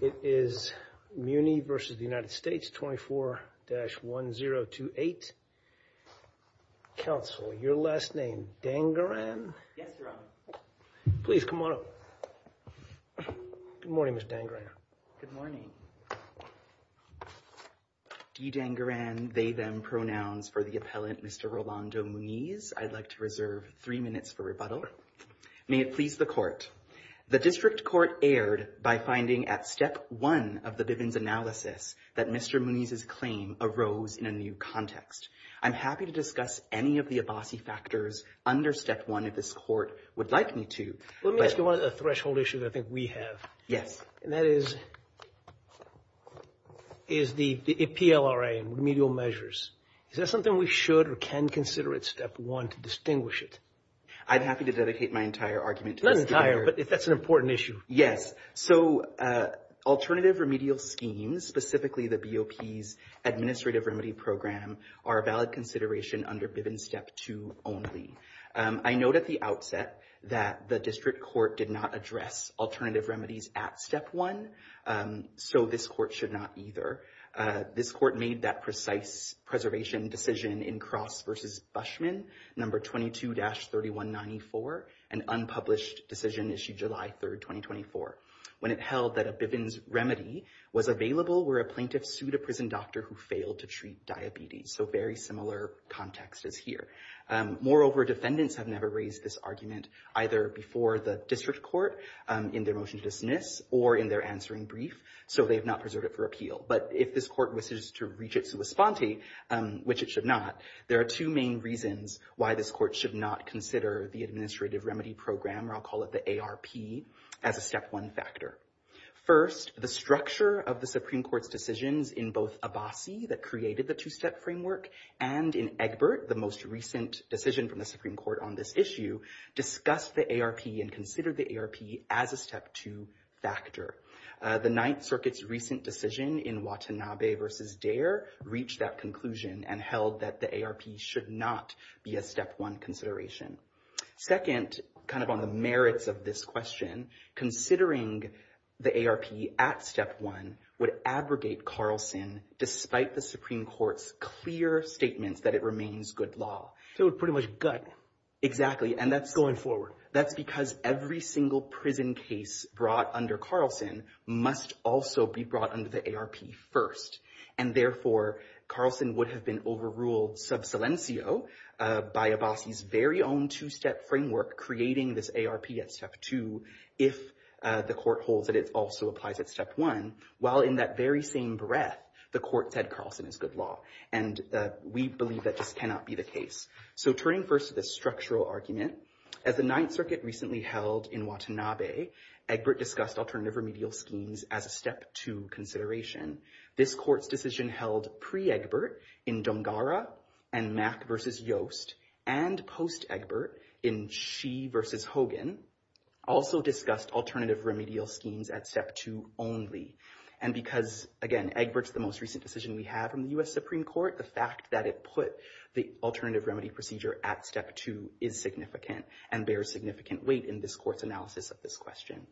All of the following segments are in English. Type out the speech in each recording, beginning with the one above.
It is Muni v. United States 24-1028. Counsel, your last name, Dangaran? Yes, Your Honor. Please come on up. Good morning, Mr. Dangaran. Good morning. D. Dangaran, they, them pronouns for the appellant, Mr. Rolando Muniz. I'd like to reserve three minutes for rebuttal. May it please the court. The district court erred by finding at step one of the Bivens analysis that Mr. Muniz's claim arose in a new context. I'm happy to discuss any of the Abbasi factors under step one if this court would like me to. Let me ask you one of the threshold issues I think we have. Yes. And that is, is the PLRA and remedial measures. Is that something we should or can consider at step one to distinguish it? I'm happy to dedicate my entire argument. Not entire, but that's an important issue. Yes. So, alternative remedial schemes, specifically the BOP's administrative remedy program, are a valid consideration under Bivens step two only. I note at the outset that the district court did not address alternative remedies at step one, so this court should not either. This court made that precise preservation decision in Cross versus Bushman, number 22-3194, an unpublished decision issued July 3rd, 2024. When it held that a Bivens remedy was available where a plaintiff sued a prison doctor who failed to treat diabetes. So very similar context is here. Moreover, defendants have never raised this argument either before the district court in their motion to dismiss or in their answering brief. So they have not preserved it for appeal. But if this court wishes to reach it to a sponte, which it should not, there are two main reasons why this court should not consider the administrative remedy program, or I'll call it the ARP, as a step one factor. First, the structure of the Supreme Court's decisions in both Abbasi, that created the two-step framework, and in Egbert, the most recent decision from the Supreme Court on this issue, discussed the ARP and considered the ARP as a step two factor. The Ninth Circuit's recent decision in Watanabe versus Dare reached that conclusion and held that the ARP should not be a step one consideration. Second, kind of on the merits of this question, considering the ARP at step one would abrogate Carlson despite the Supreme Court's clear statements that it remains good law. It would pretty much gut him. Exactly. Going forward. That's because every single prison case brought under Carlson must also be brought under the ARP first. And therefore, Carlson would have been overruled sub silencio by Abbasi's very own two-step framework creating this ARP at step two if the court holds that it also applies at step one, while in that very same breath, the court said Carlson is good law. And we believe that this cannot be the case. So turning first to the structural argument, as the Ninth Circuit recently held in Watanabe, Egbert discussed alternative remedial schemes as a step two consideration. This court's decision held pre-Egbert in Dongara and Mack versus Yost and post-Egbert in Shee versus Hogan also discussed alternative remedial schemes at step two only. And because, again, Egbert's the most recent decision we have from the U.S. Supreme Court, the fact that it put the alternative remedy procedure at step two is significant and bears significant weight in this court's analysis of this question.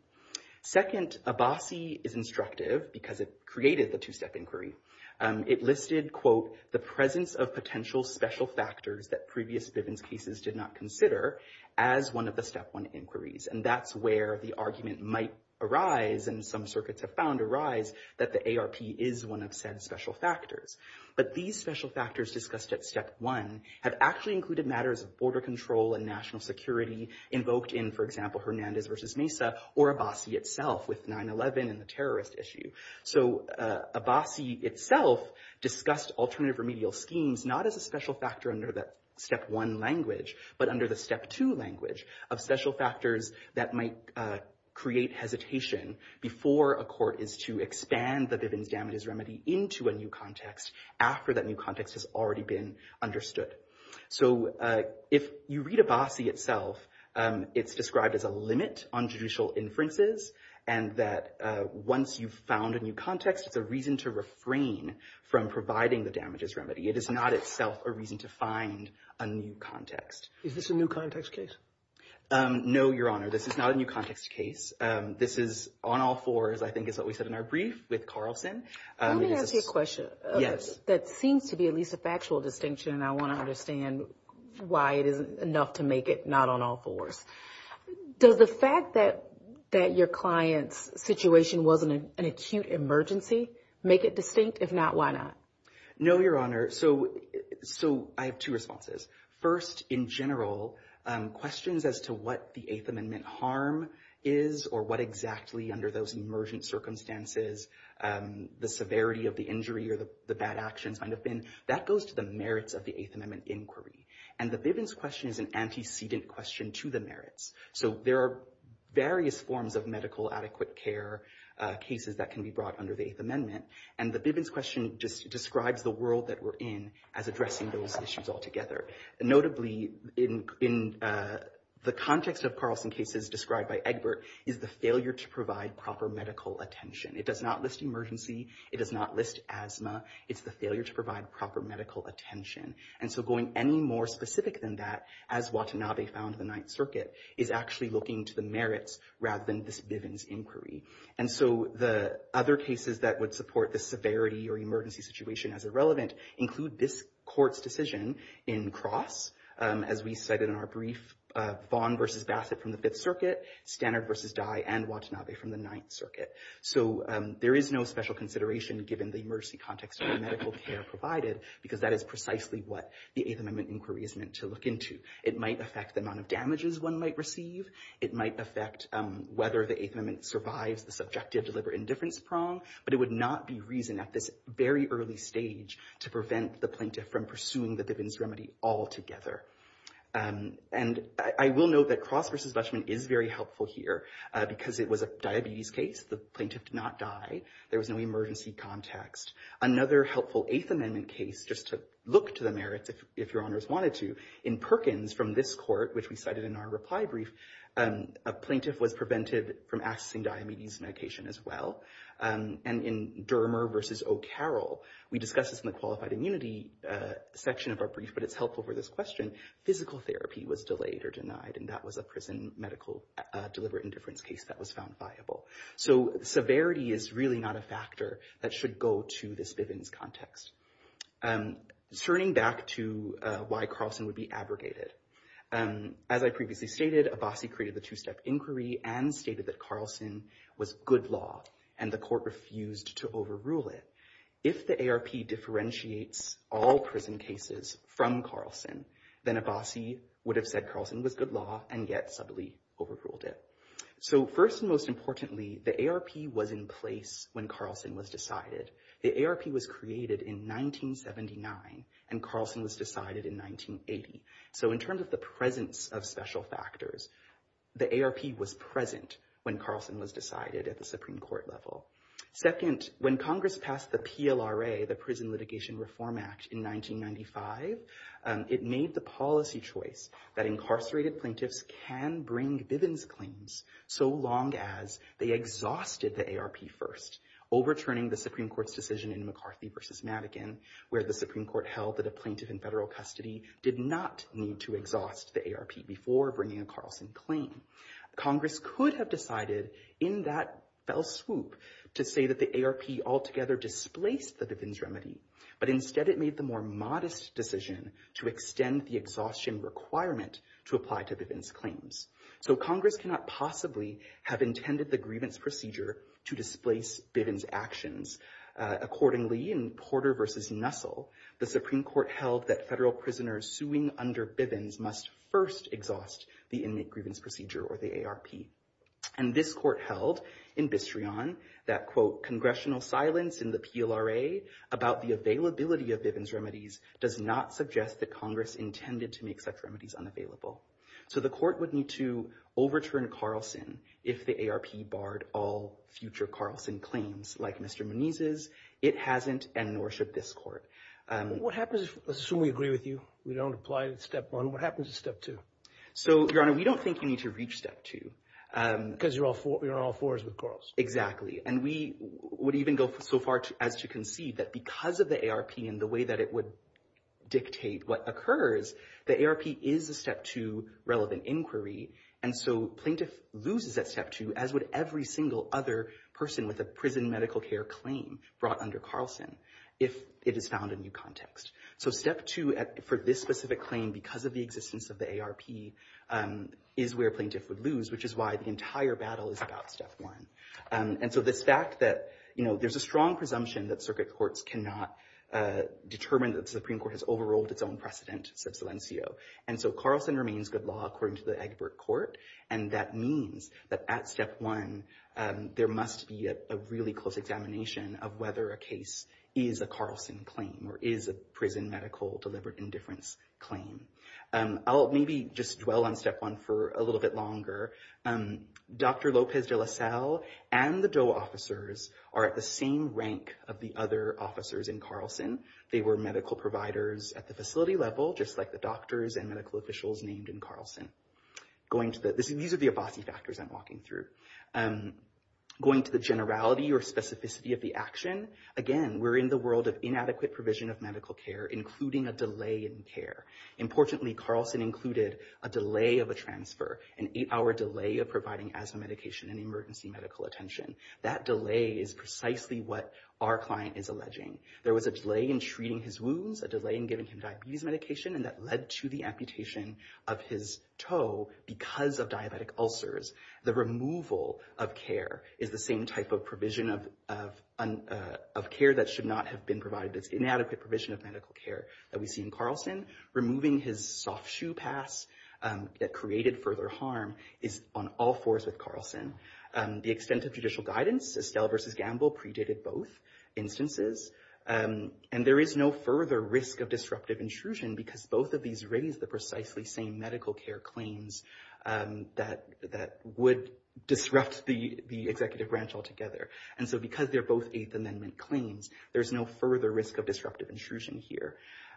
Second, Abbasi is instructive because it created the two-step inquiry. It listed, quote, the presence of potential special factors that previous Bivens cases did not consider as one of the step one inquiries. And that's where the argument might arise and some circuits have found arise that the ARP is one of said special factors. But these special factors discussed at step one have actually included matters of border control and national security invoked in, for example, Hernandez versus Mesa or Abbasi itself with 9-11 and the terrorist issue. So Abbasi itself discussed alternative remedial schemes not as a special factor under that step one language but under the step two language of special factors that might create hesitation before a court is to expand the Bivens damages remedy into a new context after that new context has already been understood. So if you read Abbasi itself, it's described as a limit on judicial inferences and that once you've found a new context, it's a reason to refrain from providing the damages remedy. It is not itself a reason to find a new context. Is this a new context case? No, Your Honor, this is not a new context case. This is on all fours, I think is what we said in our brief with Carlson. Let me ask you a question. Yes. That seems to be at least a factual distinction and I want to understand why it isn't enough to make it not on all fours. Does the fact that your client's situation wasn't an acute emergency make it distinct? If not, why not? No, Your Honor. So I have two responses. First, in general, questions as to what the Eighth Amendment harm is or what exactly under those emergent circumstances the severity of the injury or the bad actions might have been, that goes to the merits of the Eighth Amendment inquiry. And the Bivens question is an antecedent question to the merits. So there are various forms of medical adequate care cases that can be brought under the Eighth Amendment. And the Bivens question just describes the world that we're in as addressing those issues altogether. Notably, in the context of Carlson cases described by Egbert, is the failure to provide proper medical attention. It does not list emergency. It does not list asthma. It's the failure to provide proper medical attention. And so going any more specific than that, as Watanabe found in the Ninth Circuit, is actually looking to the merits rather than this Bivens inquiry. And so the other cases that would support the severity or emergency situation as irrelevant include this court's decision in Cross, as we cited in our brief, Vaughn v. Bassett from the Fifth Circuit, Standard v. Dye, and Watanabe from the Ninth Circuit. So there is no special consideration given the emergency context of the medical care provided, because that is precisely what the Eighth Amendment inquiry is meant to look into. It might affect the amount of damages one might receive. It might affect whether the Eighth Amendment survives the subjective deliberate indifference prong. But it would not be reason at this very early stage to prevent the plaintiff from pursuing the Bivens remedy altogether. And I will note that Cross v. Dutchman is very helpful here, because it was a diabetes case. The plaintiff did not die. There was no emergency context. Another helpful Eighth Amendment case, just to look to the merits, if your honors wanted to, in Perkins from this court, which we cited in our reply brief, a plaintiff was prevented from accessing diabetes medication as well. And in Dermer v. O'Carroll, we discussed this in the qualified immunity section of our brief, but it's helpful for this question, physical therapy was delayed or denied. And that was a prison medical deliberate indifference case that was found viable. So severity is really not a factor that should go to this Bivens context. Turning back to why Carlson would be abrogated. As I previously stated, Abbasi created the two-step inquiry and stated that Carlson was good law, and the court refused to overrule it. If the ARP differentiates all prison cases from Carlson, then Abbasi would have said Carlson was good law and yet subtly overruled it. So first and most importantly, the ARP was in place when Carlson was decided. The ARP was created in 1979, and Carlson was decided in 1980. So in terms of the presence of special factors, the ARP was present when Carlson was decided at the Supreme Court level. Second, when Congress passed the PLRA, the Prison Litigation Reform Act, in 1995, it made the policy choice that incarcerated plaintiffs can bring Bivens claims so long as they exhausted the ARP first, overturning the Supreme Court's decision in McCarthy v. Madigan, where the Supreme Court held that a plaintiff in federal custody did not need to exhaust the ARP before bringing a Carlson claim. Congress could have decided in that fell swoop to say that the ARP altogether displaced the Bivens remedy, but instead it made the more modest decision to extend the exhaustion requirement to apply to Bivens claims. So Congress cannot possibly have intended the grievance procedure to displace Bivens actions. Accordingly, in Porter v. Nussel, the Supreme Court held that federal prisoners suing under Bivens must first exhaust the Inmate Grievance Procedure, or the ARP. And this Court held in Bistreon that, quote, So the Court would need to overturn Carlson if the ARP barred all future Carlson claims like Mr. Moniz's, it hasn't, and nor should this Court. Let's assume we agree with you. We don't apply to Step 1. What happens to Step 2? So, Your Honor, we don't think you need to reach Step 2. Because you're on all fours with Carlson. Exactly. And we would even go so far as to concede that because of the ARP and the way that it would dictate what occurs, the ARP is a Step 2 relevant inquiry. And so plaintiff loses at Step 2, as would every single other person with a prison medical care claim brought under Carlson, if it is found in new context. So Step 2 for this specific claim, because of the existence of the ARP, is where plaintiff would lose, which is why the entire battle is about Step 1. And so this fact that, you know, there's a strong presumption that circuit courts cannot determine that the Supreme Court has overruled its own precedent, sub silencio. And so Carlson remains good law according to the Egbert Court. And that means that at Step 1, there must be a really close examination of whether a case is a Carlson claim or is a prison medical deliberate indifference claim. I'll maybe just dwell on Step 1 for a little bit longer. Dr. Lopez de La Salle and the Doe officers are at the same rank of the other officers in Carlson. They were medical providers at the facility level, just like the doctors and medical officials named in Carlson. These are the Abbasi factors I'm walking through. Going to the generality or specificity of the action, again, we're in the world of inadequate provision of medical care, including a delay in care. Importantly, Carlson included a delay of a transfer, an eight-hour delay of providing asthma medication and emergency medical attention. That delay is precisely what our client is alleging. There was a delay in treating his wounds, a delay in giving him diabetes medication, and that led to the amputation of his toe because of diabetic ulcers. The removal of care is the same type of provision of care that should not have been provided. It's inadequate provision of medical care that we see in Carlson. Removing his soft shoe pass that created further harm is on all fours with Carlson. The extent of judicial guidance, Estelle versus Gamble, predated both instances. And there is no further risk of disruptive intrusion because both of these raise the precisely same medical care claims that would disrupt the executive branch altogether. And so because they're both Eighth Amendment claims, there's no further risk of disruptive intrusion here.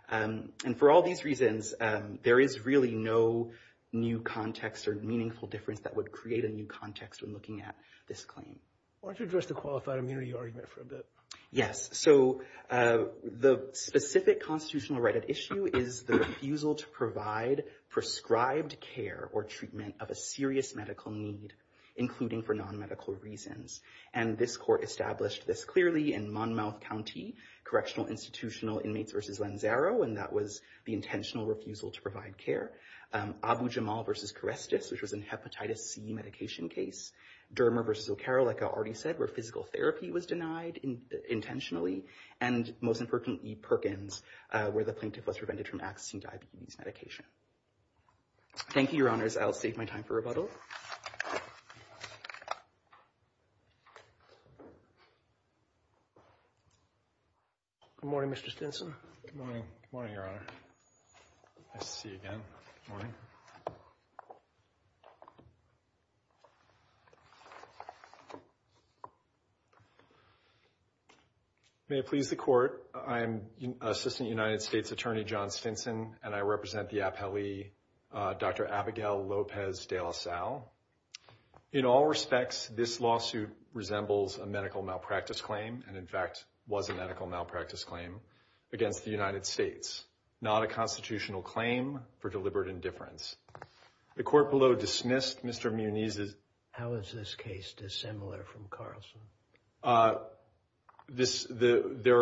And for all these reasons, there is really no new context or meaningful difference that would create a new context when looking at this claim. Why don't you address the qualified immunity argument for a bit? Yes. So the specific constitutional right at issue is the refusal to provide prescribed care or treatment of a serious medical need, including for non-medical reasons. And this court established this clearly in Monmouth County, Correctional Institutional Inmates versus Lanzaro. And that was the intentional refusal to provide care. Abu-Jamal versus Charestis, which was a hepatitis C medication case. Dermer versus O'Carroll, like I already said, where physical therapy was denied intentionally. And most importantly, Perkins, where the plaintiff was prevented from accessing diabetes medication. Thank you, Your Honors. I'll save my time for rebuttal. Good morning, Mr. Stinson. Good morning. Good morning, Your Honor. Nice to see you again. May it please the court. I'm Assistant United States Attorney John Stinson, and I represent the appellee, Dr. Abigail Lopez de la Salle. In all respects, this lawsuit resembles a medical malpractice claim and, in fact, was a medical malpractice claim against the United States. Not a constitutional claim for deliberate indifference. The court below dismissed Mr. Muniz's... How is this case dissimilar from Carlson? There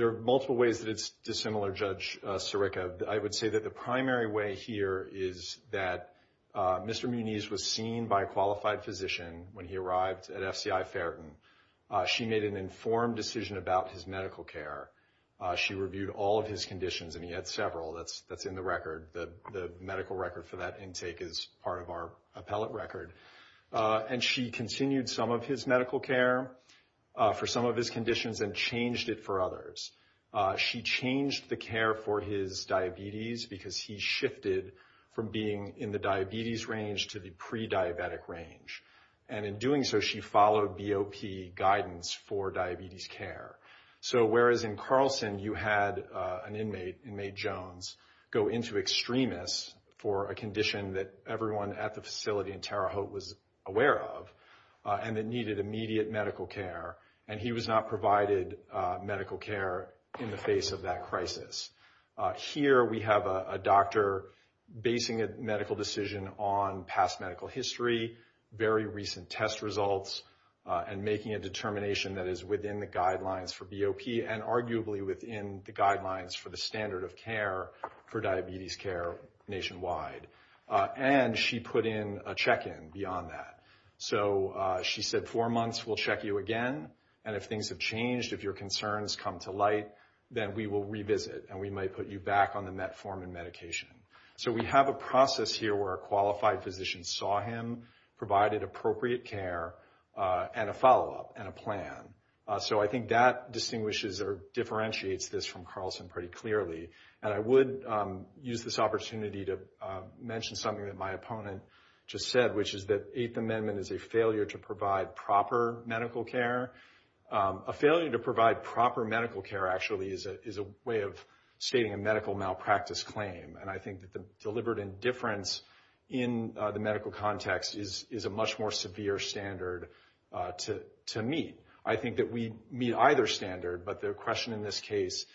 are multiple ways that it's dissimilar, Judge Sirica. I would say that the primary way here is that Mr. Muniz was seen by a qualified physician when he arrived at FCI Ferryton. She made an informed decision about his medical care. She reviewed all of his conditions, and he had several. That's in the record. The medical record for that intake is part of our appellate record. And she continued some of his medical care for some of his conditions and changed it for others. She changed the care for his diabetes because he shifted from being in the diabetes range to the pre-diabetic range. And in doing so, she followed BOP guidance for diabetes care. So whereas in Carlson you had an inmate, Inmate Jones, go into extremis for a condition that everyone at the facility in Terre Haute was aware of, and that needed immediate medical care, and he was not provided medical care in the face of that crisis. Here we have a doctor basing a medical decision on past medical history, very recent test results, and making a determination that is within the guidelines for BOP, and arguably within the guidelines for the standard of care for diabetes care nationwide. And she put in a check-in beyond that. So she said, four months, we'll check you again. And if things have changed, if your concerns come to light, then we will revisit, and we might put you back on the met form and medication. So we have a process here where a qualified physician saw him, provided appropriate care, and a follow-up and a plan. So I think that distinguishes or differentiates this from Carlson pretty clearly. And I would use this opportunity to mention something that my opponent just said, which is that Eighth Amendment is a failure to provide proper medical care. A failure to provide proper medical care actually is a way of stating a medical malpractice claim. And I think that the deliberate indifference in the medical context is a much more severe standard to meet. I think that we meet either standard, but the question in this case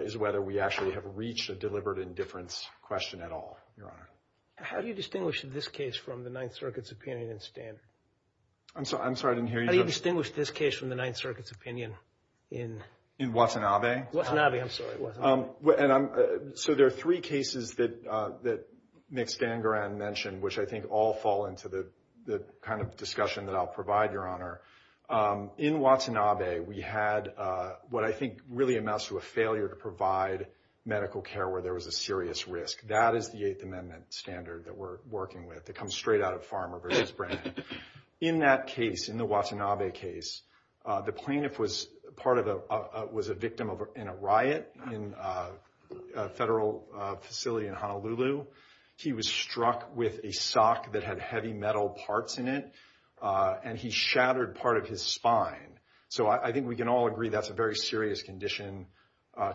is whether we actually have reached a deliberate indifference question at all, Your Honor. How do you distinguish this case from the Ninth Circuit's opinion in standard? I'm sorry, I didn't hear you. How do you distinguish this case from the Ninth Circuit's opinion in? In Watanabe. Watanabe, I'm sorry. So there are three cases that Mick Stangaran mentioned, which I think all fall into the kind of discussion that I'll provide, Your Honor. In Watanabe, we had what I think really amounts to a failure to provide medical care where there was a serious risk. That is the Eighth Amendment standard that we're working with. It comes straight out of Farmer v. Brannon. In that case, in the Watanabe case, the plaintiff was a victim in a riot in a federal facility in Honolulu. He was struck with a sock that had heavy metal parts in it, and he shattered part of his spine. So I think we can all agree that's a very serious condition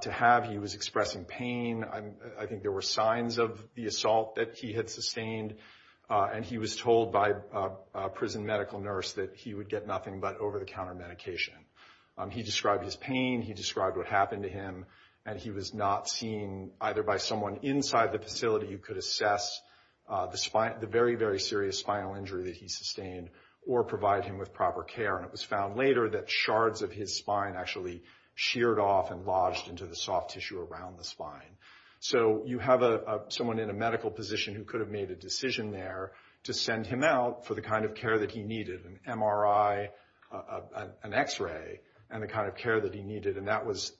to have. He was expressing pain. I think there were signs of the assault that he had sustained, and he was told by a prison medical nurse that he would get nothing but over-the-counter medication. He described his pain. He described what happened to him, and he was not seen either by someone inside the facility who could assess the very, very serious spinal injury that he sustained or provide him with proper care. And it was found later that shards of his spine actually sheared off and lodged into the soft tissue around the spine. So you have someone in a medical position who could have made a decision there to send him out for the kind of care that he needed, an MRI, an X-ray, and the kind of care that he needed. And that was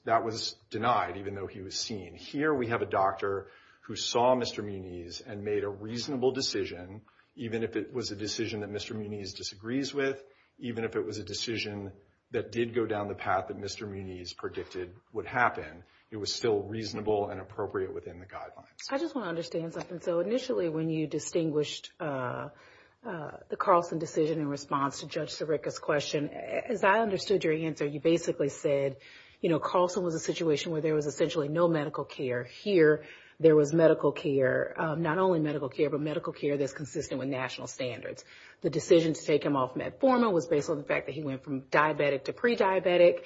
denied, even though he was seen. Here we have a doctor who saw Mr. Muniz and made a reasonable decision, even if it was a decision that Mr. Muniz disagrees with, even if it was a decision that did go down the path that Mr. Muniz predicted would happen. It was still reasonable and appropriate within the guidelines. I just want to understand something. So initially when you distinguished the Carlson decision in response to Judge Sirica's question, as I understood your answer, you basically said, you know, Carlson was in a situation where there was essentially no medical care. Here there was medical care, not only medical care, but medical care that's consistent with national standards. The decision to take him off metformin was based on the fact that he went from diabetic to pre-diabetic.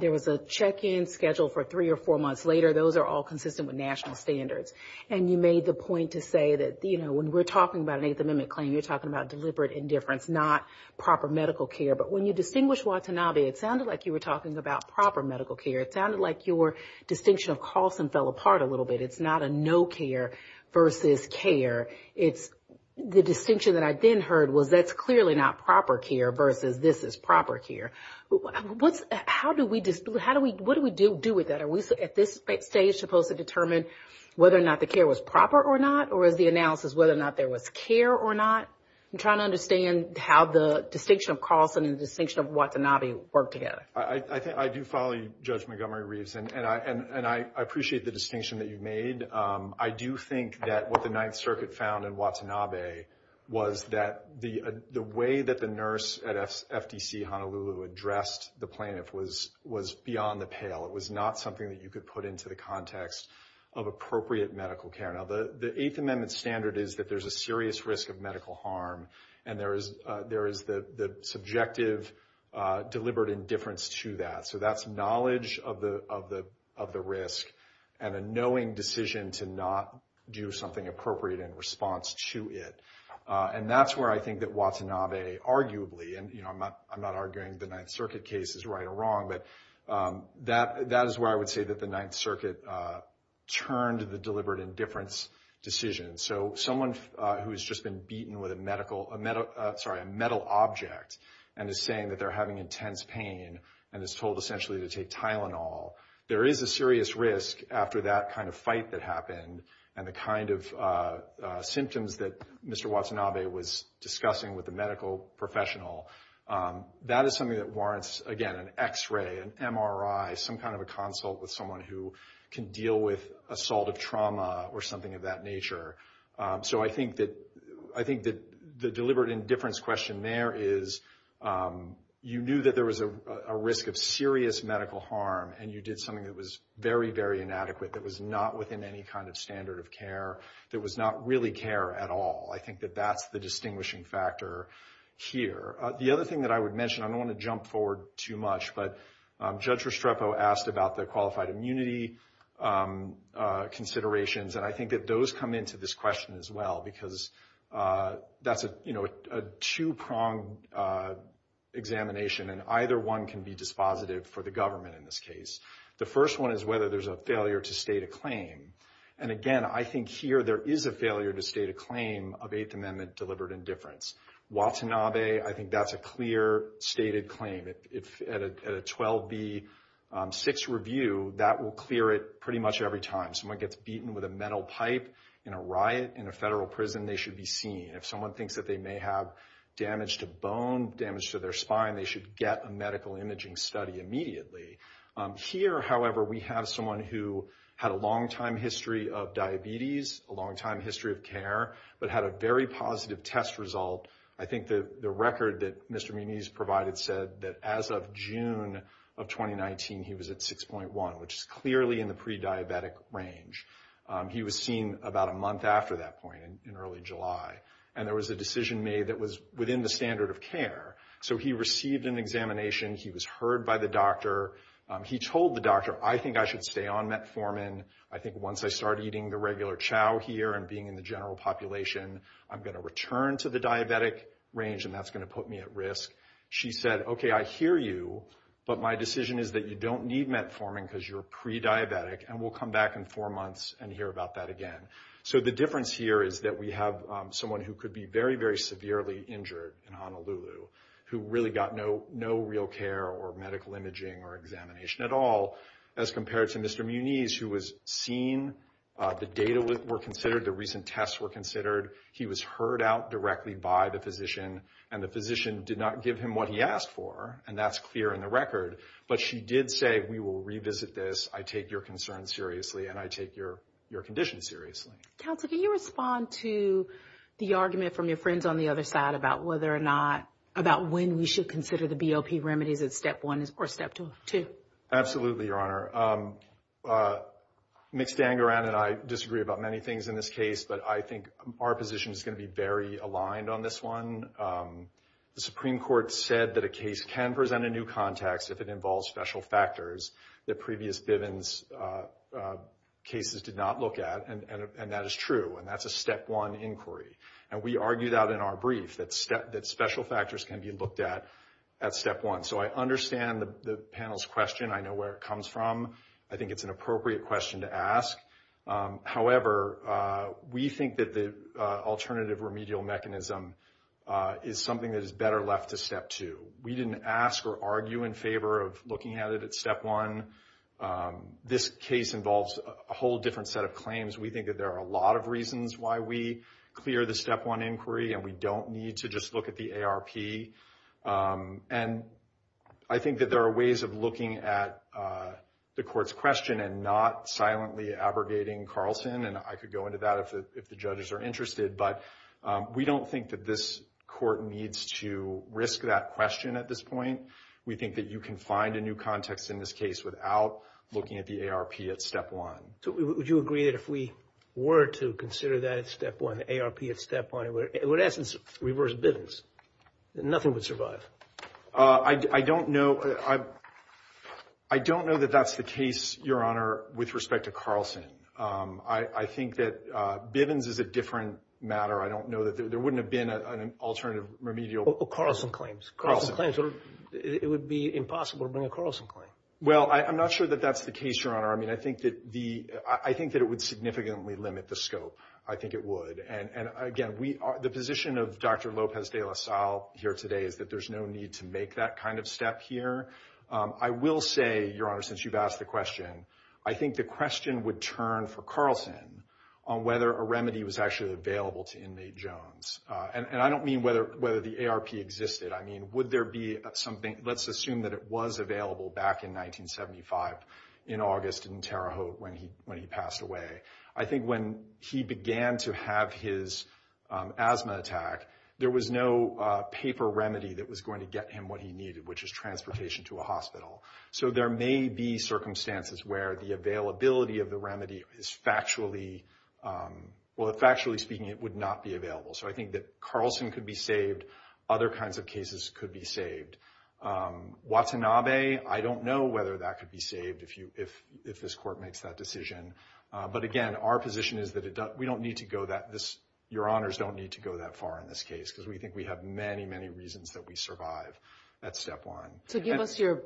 There was a check-in scheduled for three or four months later. Those are all consistent with national standards. And you made the point to say that, you know, when we're talking about an Eighth Amendment claim, you're talking about deliberate indifference, not proper medical care. But when you distinguished Watanabe, it sounded like you were talking about proper medical care. It sounded like your distinction of Carlson fell apart a little bit. It's not a no care versus care. It's the distinction that I then heard was that's clearly not proper care versus this is proper care. What do we do with that? Are we at this stage supposed to determine whether or not the care was proper or not, or is the analysis whether or not there was care or not? I'm trying to understand how the distinction of Carlson and the distinction of Watanabe work together. I do follow you, Judge Montgomery-Reeves, and I appreciate the distinction that you've made. I do think that what the Ninth Circuit found in Watanabe was that the way that the nurse at FDC Honolulu addressed the plaintiff was beyond the pale. It was not something that you could put into the context of appropriate medical care. Now, the Eighth Amendment standard is that there's a serious risk of medical harm, and there is the subjective deliberate indifference to that. So that's knowledge of the risk and a knowing decision to not do something appropriate in response to it. And that's where I think that Watanabe arguably, and I'm not arguing the Ninth Circuit case is right or wrong, but that is where I would say that the Ninth Circuit turned the deliberate indifference decision. So someone who has just been beaten with a metal object and is saying that they're having intense pain and is told essentially to take Tylenol, there is a serious risk after that kind of fight that happened and the kind of symptoms that Mr. Watanabe was discussing with the medical professional. That is something that warrants, again, an X-ray, an MRI, some kind of a consult with someone who can deal with assault of trauma or something of that nature. So I think that the deliberate indifference question there is you knew that there was a risk of serious medical harm and you did something that was very, very inadequate, that was not within any kind of standard of care, that was not really care at all. I think that that's the distinguishing factor here. The other thing that I would mention, I don't want to jump forward too much, but Judge Restrepo asked about the qualified immunity considerations, and I think that those come into this question as well because that's a two-pronged examination and either one can be dispositive for the government in this case. The first one is whether there's a failure to state a claim. And again, I think here there is a failure to state a claim of Eighth Amendment deliberate indifference. Watanabe, I think that's a clear stated claim. At a 12B6 review, that will clear it pretty much every time. Someone gets beaten with a metal pipe in a riot in a federal prison, they should be seen. If someone thinks that they may have damage to bone, damage to their spine, they should get a medical imaging study immediately. Here, however, we have someone who had a long-time history of diabetes, a long-time history of care, but had a very positive test result. I think the record that Mr. Muniz provided said that as of June of 2019, he was at 6.1, which is clearly in the pre-diabetic range. He was seen about a month after that point in early July, and there was a decision made that was within the standard of care. So he received an examination. He was heard by the doctor. He told the doctor, I think I should stay on metformin. I think once I start eating the regular chow here and being in the general population, I'm going to return to the diabetic range, and that's going to put me at risk. She said, okay, I hear you, but my decision is that you don't need metformin because you're pre-diabetic, and we'll come back in four months and hear about that again. So the difference here is that we have someone who could be very, very severely injured in Honolulu, who really got no real care or medical imaging or examination at all, as compared to Mr. Muniz, who was seen, the data were considered, the recent tests were considered. He was heard out directly by the physician, and the physician did not give him what he asked for, and that's clear in the record. But she did say, we will revisit this. I take your concern seriously, and I take your condition seriously. Counsel, can you respond to the argument from your friends on the other side about whether or not, about when we should consider the BOP remedies at step one or step two? Absolutely, Your Honor. Mixed Dan Garan and I disagree about many things in this case, but I think our position is going to be very aligned on this one. The Supreme Court said that a case can present a new context if it involves special factors that previous Bivens cases did not look at, and that is true, and that's a step one inquiry. And we argued out in our brief that special factors can be looked at at step one. So I understand the panel's question. I know where it comes from. I think it's an appropriate question to ask. However, we think that the alternative remedial mechanism is something that is better left to step two. We didn't ask or argue in favor of looking at it at step one. This case involves a whole different set of claims. We think that there are a lot of reasons why we clear the step one inquiry, and we don't need to just look at the ARP. And I think that there are ways of looking at the Court's question and not silently abrogating Carlson, and I could go into that if the judges are interested. But we don't think that this Court needs to risk that question at this point. We think that you can find a new context in this case without looking at the ARP at step one. So would you agree that if we were to consider that at step one, the ARP at step one, it would, in essence, reverse Bivens, that nothing would survive? I don't know. I don't know that that's the case, Your Honor, with respect to Carlson. I think that Bivens is a different matter. I don't know that there wouldn't have been an alternative remedial. Carlson claims. Carlson claims. It would be impossible to bring a Carlson claim. Well, I'm not sure that that's the case, Your Honor. I mean, I think that it would significantly limit the scope. I think it would. And, again, the position of Dr. Lopez de la Salle here today is that there's no need to make that kind of step here. I will say, Your Honor, since you've asked the question, I think the question would turn for Carlson on whether a remedy was actually available to inmate Jones. And I don't mean whether the ARP existed. I mean, would there be something? Let's assume that it was available back in 1975 in August in Terre Haute when he passed away. I think when he began to have his asthma attack, there was no paper remedy that was going to get him what he needed, which is transportation to a hospital. So there may be circumstances where the availability of the remedy is factually, well, factually speaking, it would not be available. So I think that Carlson could be saved. Other kinds of cases could be saved. Watanabe, I don't know whether that could be saved if this Court makes that decision. But again, our position is that we don't need to go that, Your Honors, don't need to go that far in this case, because we think we have many, many reasons that we survive at Step 1. So give us your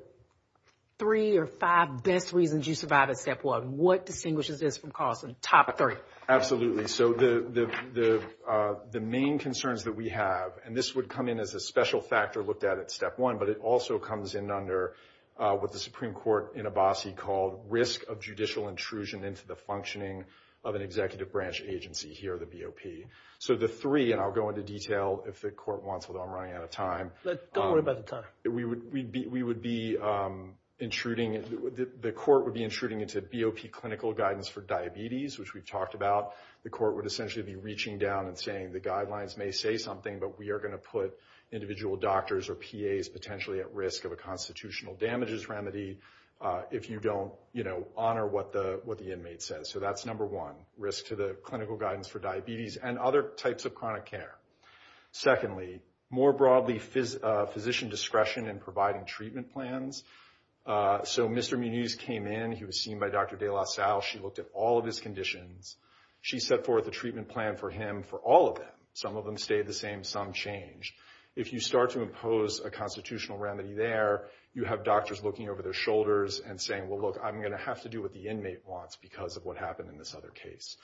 three or five best reasons you survived at Step 1. What distinguishes this from Carlson? Top three. Absolutely. So the main concerns that we have, and this would come in as a special factor looked at at Step 1, but it also comes in under what the Supreme Court in Abbasi called risk of judicial intrusion into the functioning of an executive branch agency here, the BOP. So the three, and I'll go into detail if the Court wants, although I'm running out of time. Don't worry about the time. We would be intruding, the Court would be intruding into BOP clinical guidance for diabetes, which we've talked about. The Court would essentially be reaching down and saying the guidelines may say something, but we are going to put individual doctors or PAs potentially at risk of a constitutional damages remedy if you don't honor what the inmate says. So that's number one, risk to the clinical guidance for diabetes and other types of chronic care. Secondly, more broadly, physician discretion in providing treatment plans. So Mr. Munez came in. He was seen by Dr. de la Salle. She looked at all of his conditions. She set forth a treatment plan for him for all of them. Some of them stayed the same. Some changed. If you start to impose a constitutional remedy there, you have doctors looking over their shoulders and saying, well, look, I'm going to have to do what the inmate wants because of what happened in this other case.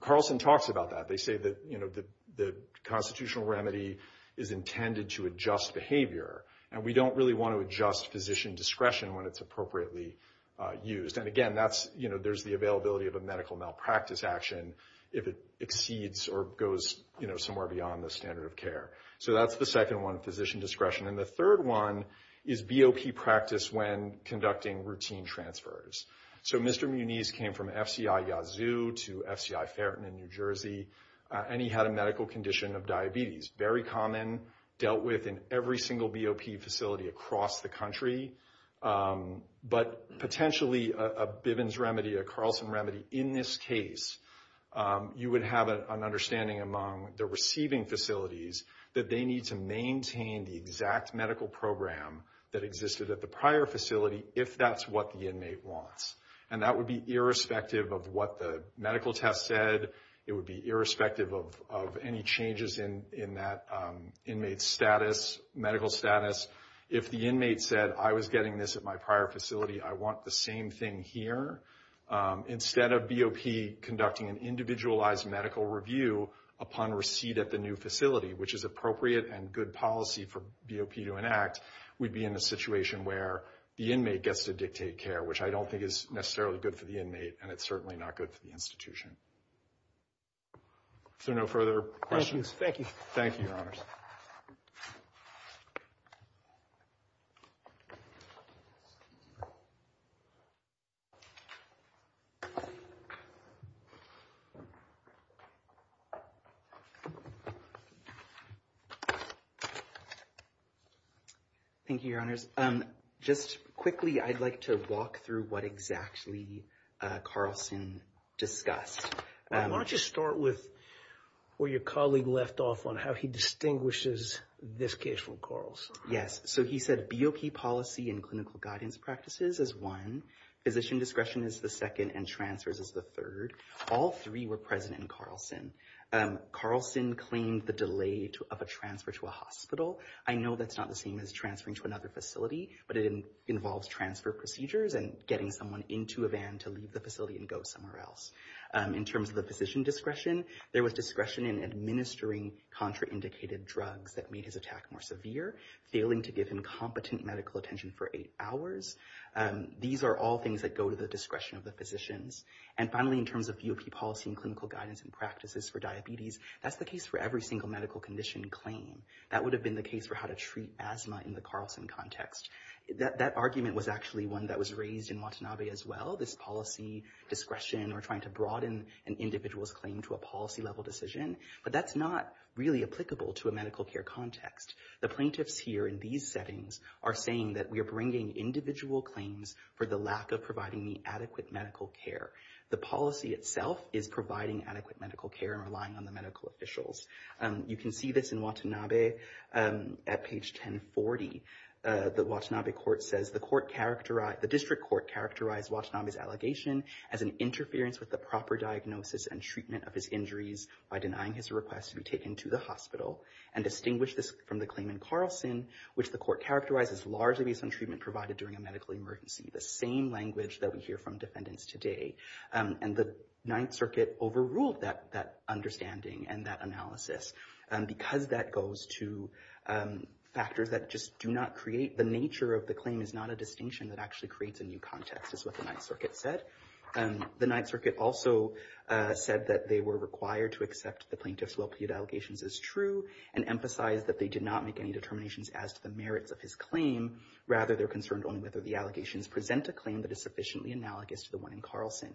Carlson talks about that. They say that the constitutional remedy is intended to adjust behavior, and we don't really want to adjust physician discretion when it's appropriately used. And, again, there's the availability of a medical malpractice action if it exceeds or goes somewhere beyond the standard of care. So that's the second one, physician discretion. And the third one is BOP practice when conducting routine transfers. So Mr. Munez came from FCI Yazoo to FCI Ferreton in New Jersey, and he had a medical condition of diabetes. Very common, dealt with in every single BOP facility across the country. But potentially a Bivens remedy, a Carlson remedy in this case, you would have an understanding among the receiving facilities that they need to maintain the exact medical program that existed at the prior facility if that's what the inmate wants. And that would be irrespective of what the medical test said. It would be irrespective of any changes in that inmate's status, medical status. If the inmate said, I was getting this at my prior facility, I want the same thing here, instead of BOP conducting an individualized medical review upon receipt at the new facility, which is appropriate and good policy for BOP to enact, we'd be in a situation where the inmate gets to dictate care, which I don't think is necessarily good for the inmate, and it's certainly not good for the institution. Is there no further questions? Thank you. Thank you, Your Honors. Thank you, Your Honors. Just quickly, I'd like to walk through what exactly Carlson discussed. Why don't you start with where your colleague left off on how he distinguishes this case from Carlson. Yes. So he said BOP policy and clinical guidance practices is one. Physician discretion is the second and transfers is the third. All three were present in Carlson. Carlson claimed the delay of a transfer to a hospital. I know that's not the same as transferring to another facility, but it involves transfer procedures and getting someone into a van to leave the facility and go somewhere else. In terms of the physician discretion, there was discretion in administering contraindicated drugs that made his attack more severe, failing to give him competent medical attention for eight hours. These are all things that go to the discretion of the physicians. And finally, in terms of BOP policy and clinical guidance and practices for diabetes, that's the case for every single medical condition claim. That would have been the case for how to treat asthma in the Carlson context. That argument was actually one that was raised in Watanabe as well. This policy discretion or trying to broaden an individual's claim to a policy level decision. But that's not really applicable to a medical care context. The plaintiffs here in these settings are saying that we are bringing individual claims for the lack of providing the adequate medical care. The policy itself is providing adequate medical care and relying on the medical officials. You can see this in Watanabe at page 1040. The Watanabe court says the district court characterized Watanabe's allegation as an interference with the proper diagnosis and treatment of his injuries by denying his request to be taken to the hospital and distinguish this from the claim in Carlson, which the court characterizes largely based on treatment provided during a medical emergency. The same language that we hear from defendants today. And the Ninth Circuit overruled that understanding and that analysis because that goes to factors that just do not create the nature of the claim, is not a distinction that actually creates a new context, is what the Ninth Circuit said. The Ninth Circuit also said that they were required to accept the plaintiff's well-plead allegations as true and emphasize that they did not make any determinations as to the merits of his claim. Rather, they're concerned only whether the allegations present a claim that is sufficiently analogous to the one in Carlson.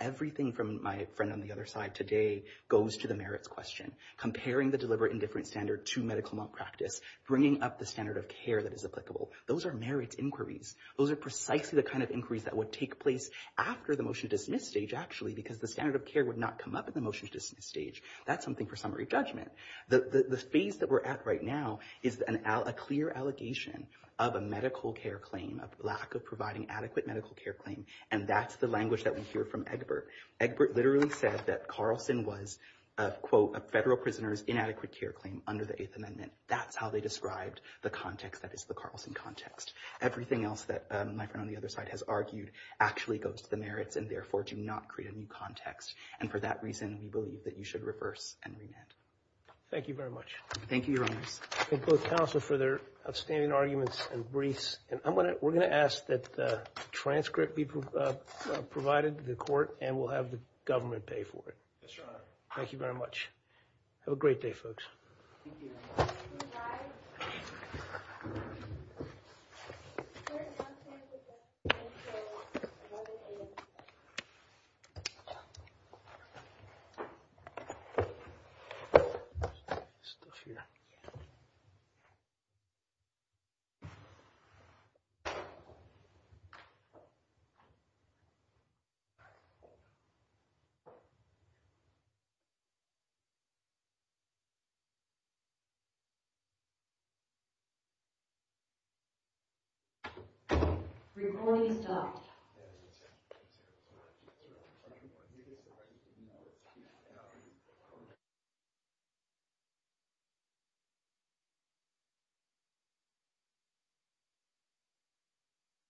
Everything from my friend on the other side today goes to the merits question. Comparing the deliberate and different standard to medical malpractice, bringing up the standard of care that is applicable. Those are merits inquiries. Those are precisely the kind of inquiries that would take place after the motion to dismiss stage, actually, because the standard of care would not come up at the motion to dismiss stage. That's something for summary judgment. The phase that we're at right now is a clear allegation of a medical care claim, of lack of providing adequate medical care claim, and that's the language that we hear from Egbert. Egbert literally said that Carlson was, quote, a federal prisoner's inadequate care claim under the Eighth Amendment. That's how they described the context that is the Carlson context. Everything else that my friend on the other side has argued actually goes to the merits and, therefore, do not create a new context. And for that reason, we believe that you should reverse and remand. Thank you very much. Thank you, Your Honors. I thank both counsel for their outstanding arguments and briefs. And we're going to ask that the transcript be provided to the court, and we'll have the government pay for it. Yes, Your Honor. Thank you very much. Have a great day, folks. Thank you. The hearing is adjourned. The hearing is adjourned.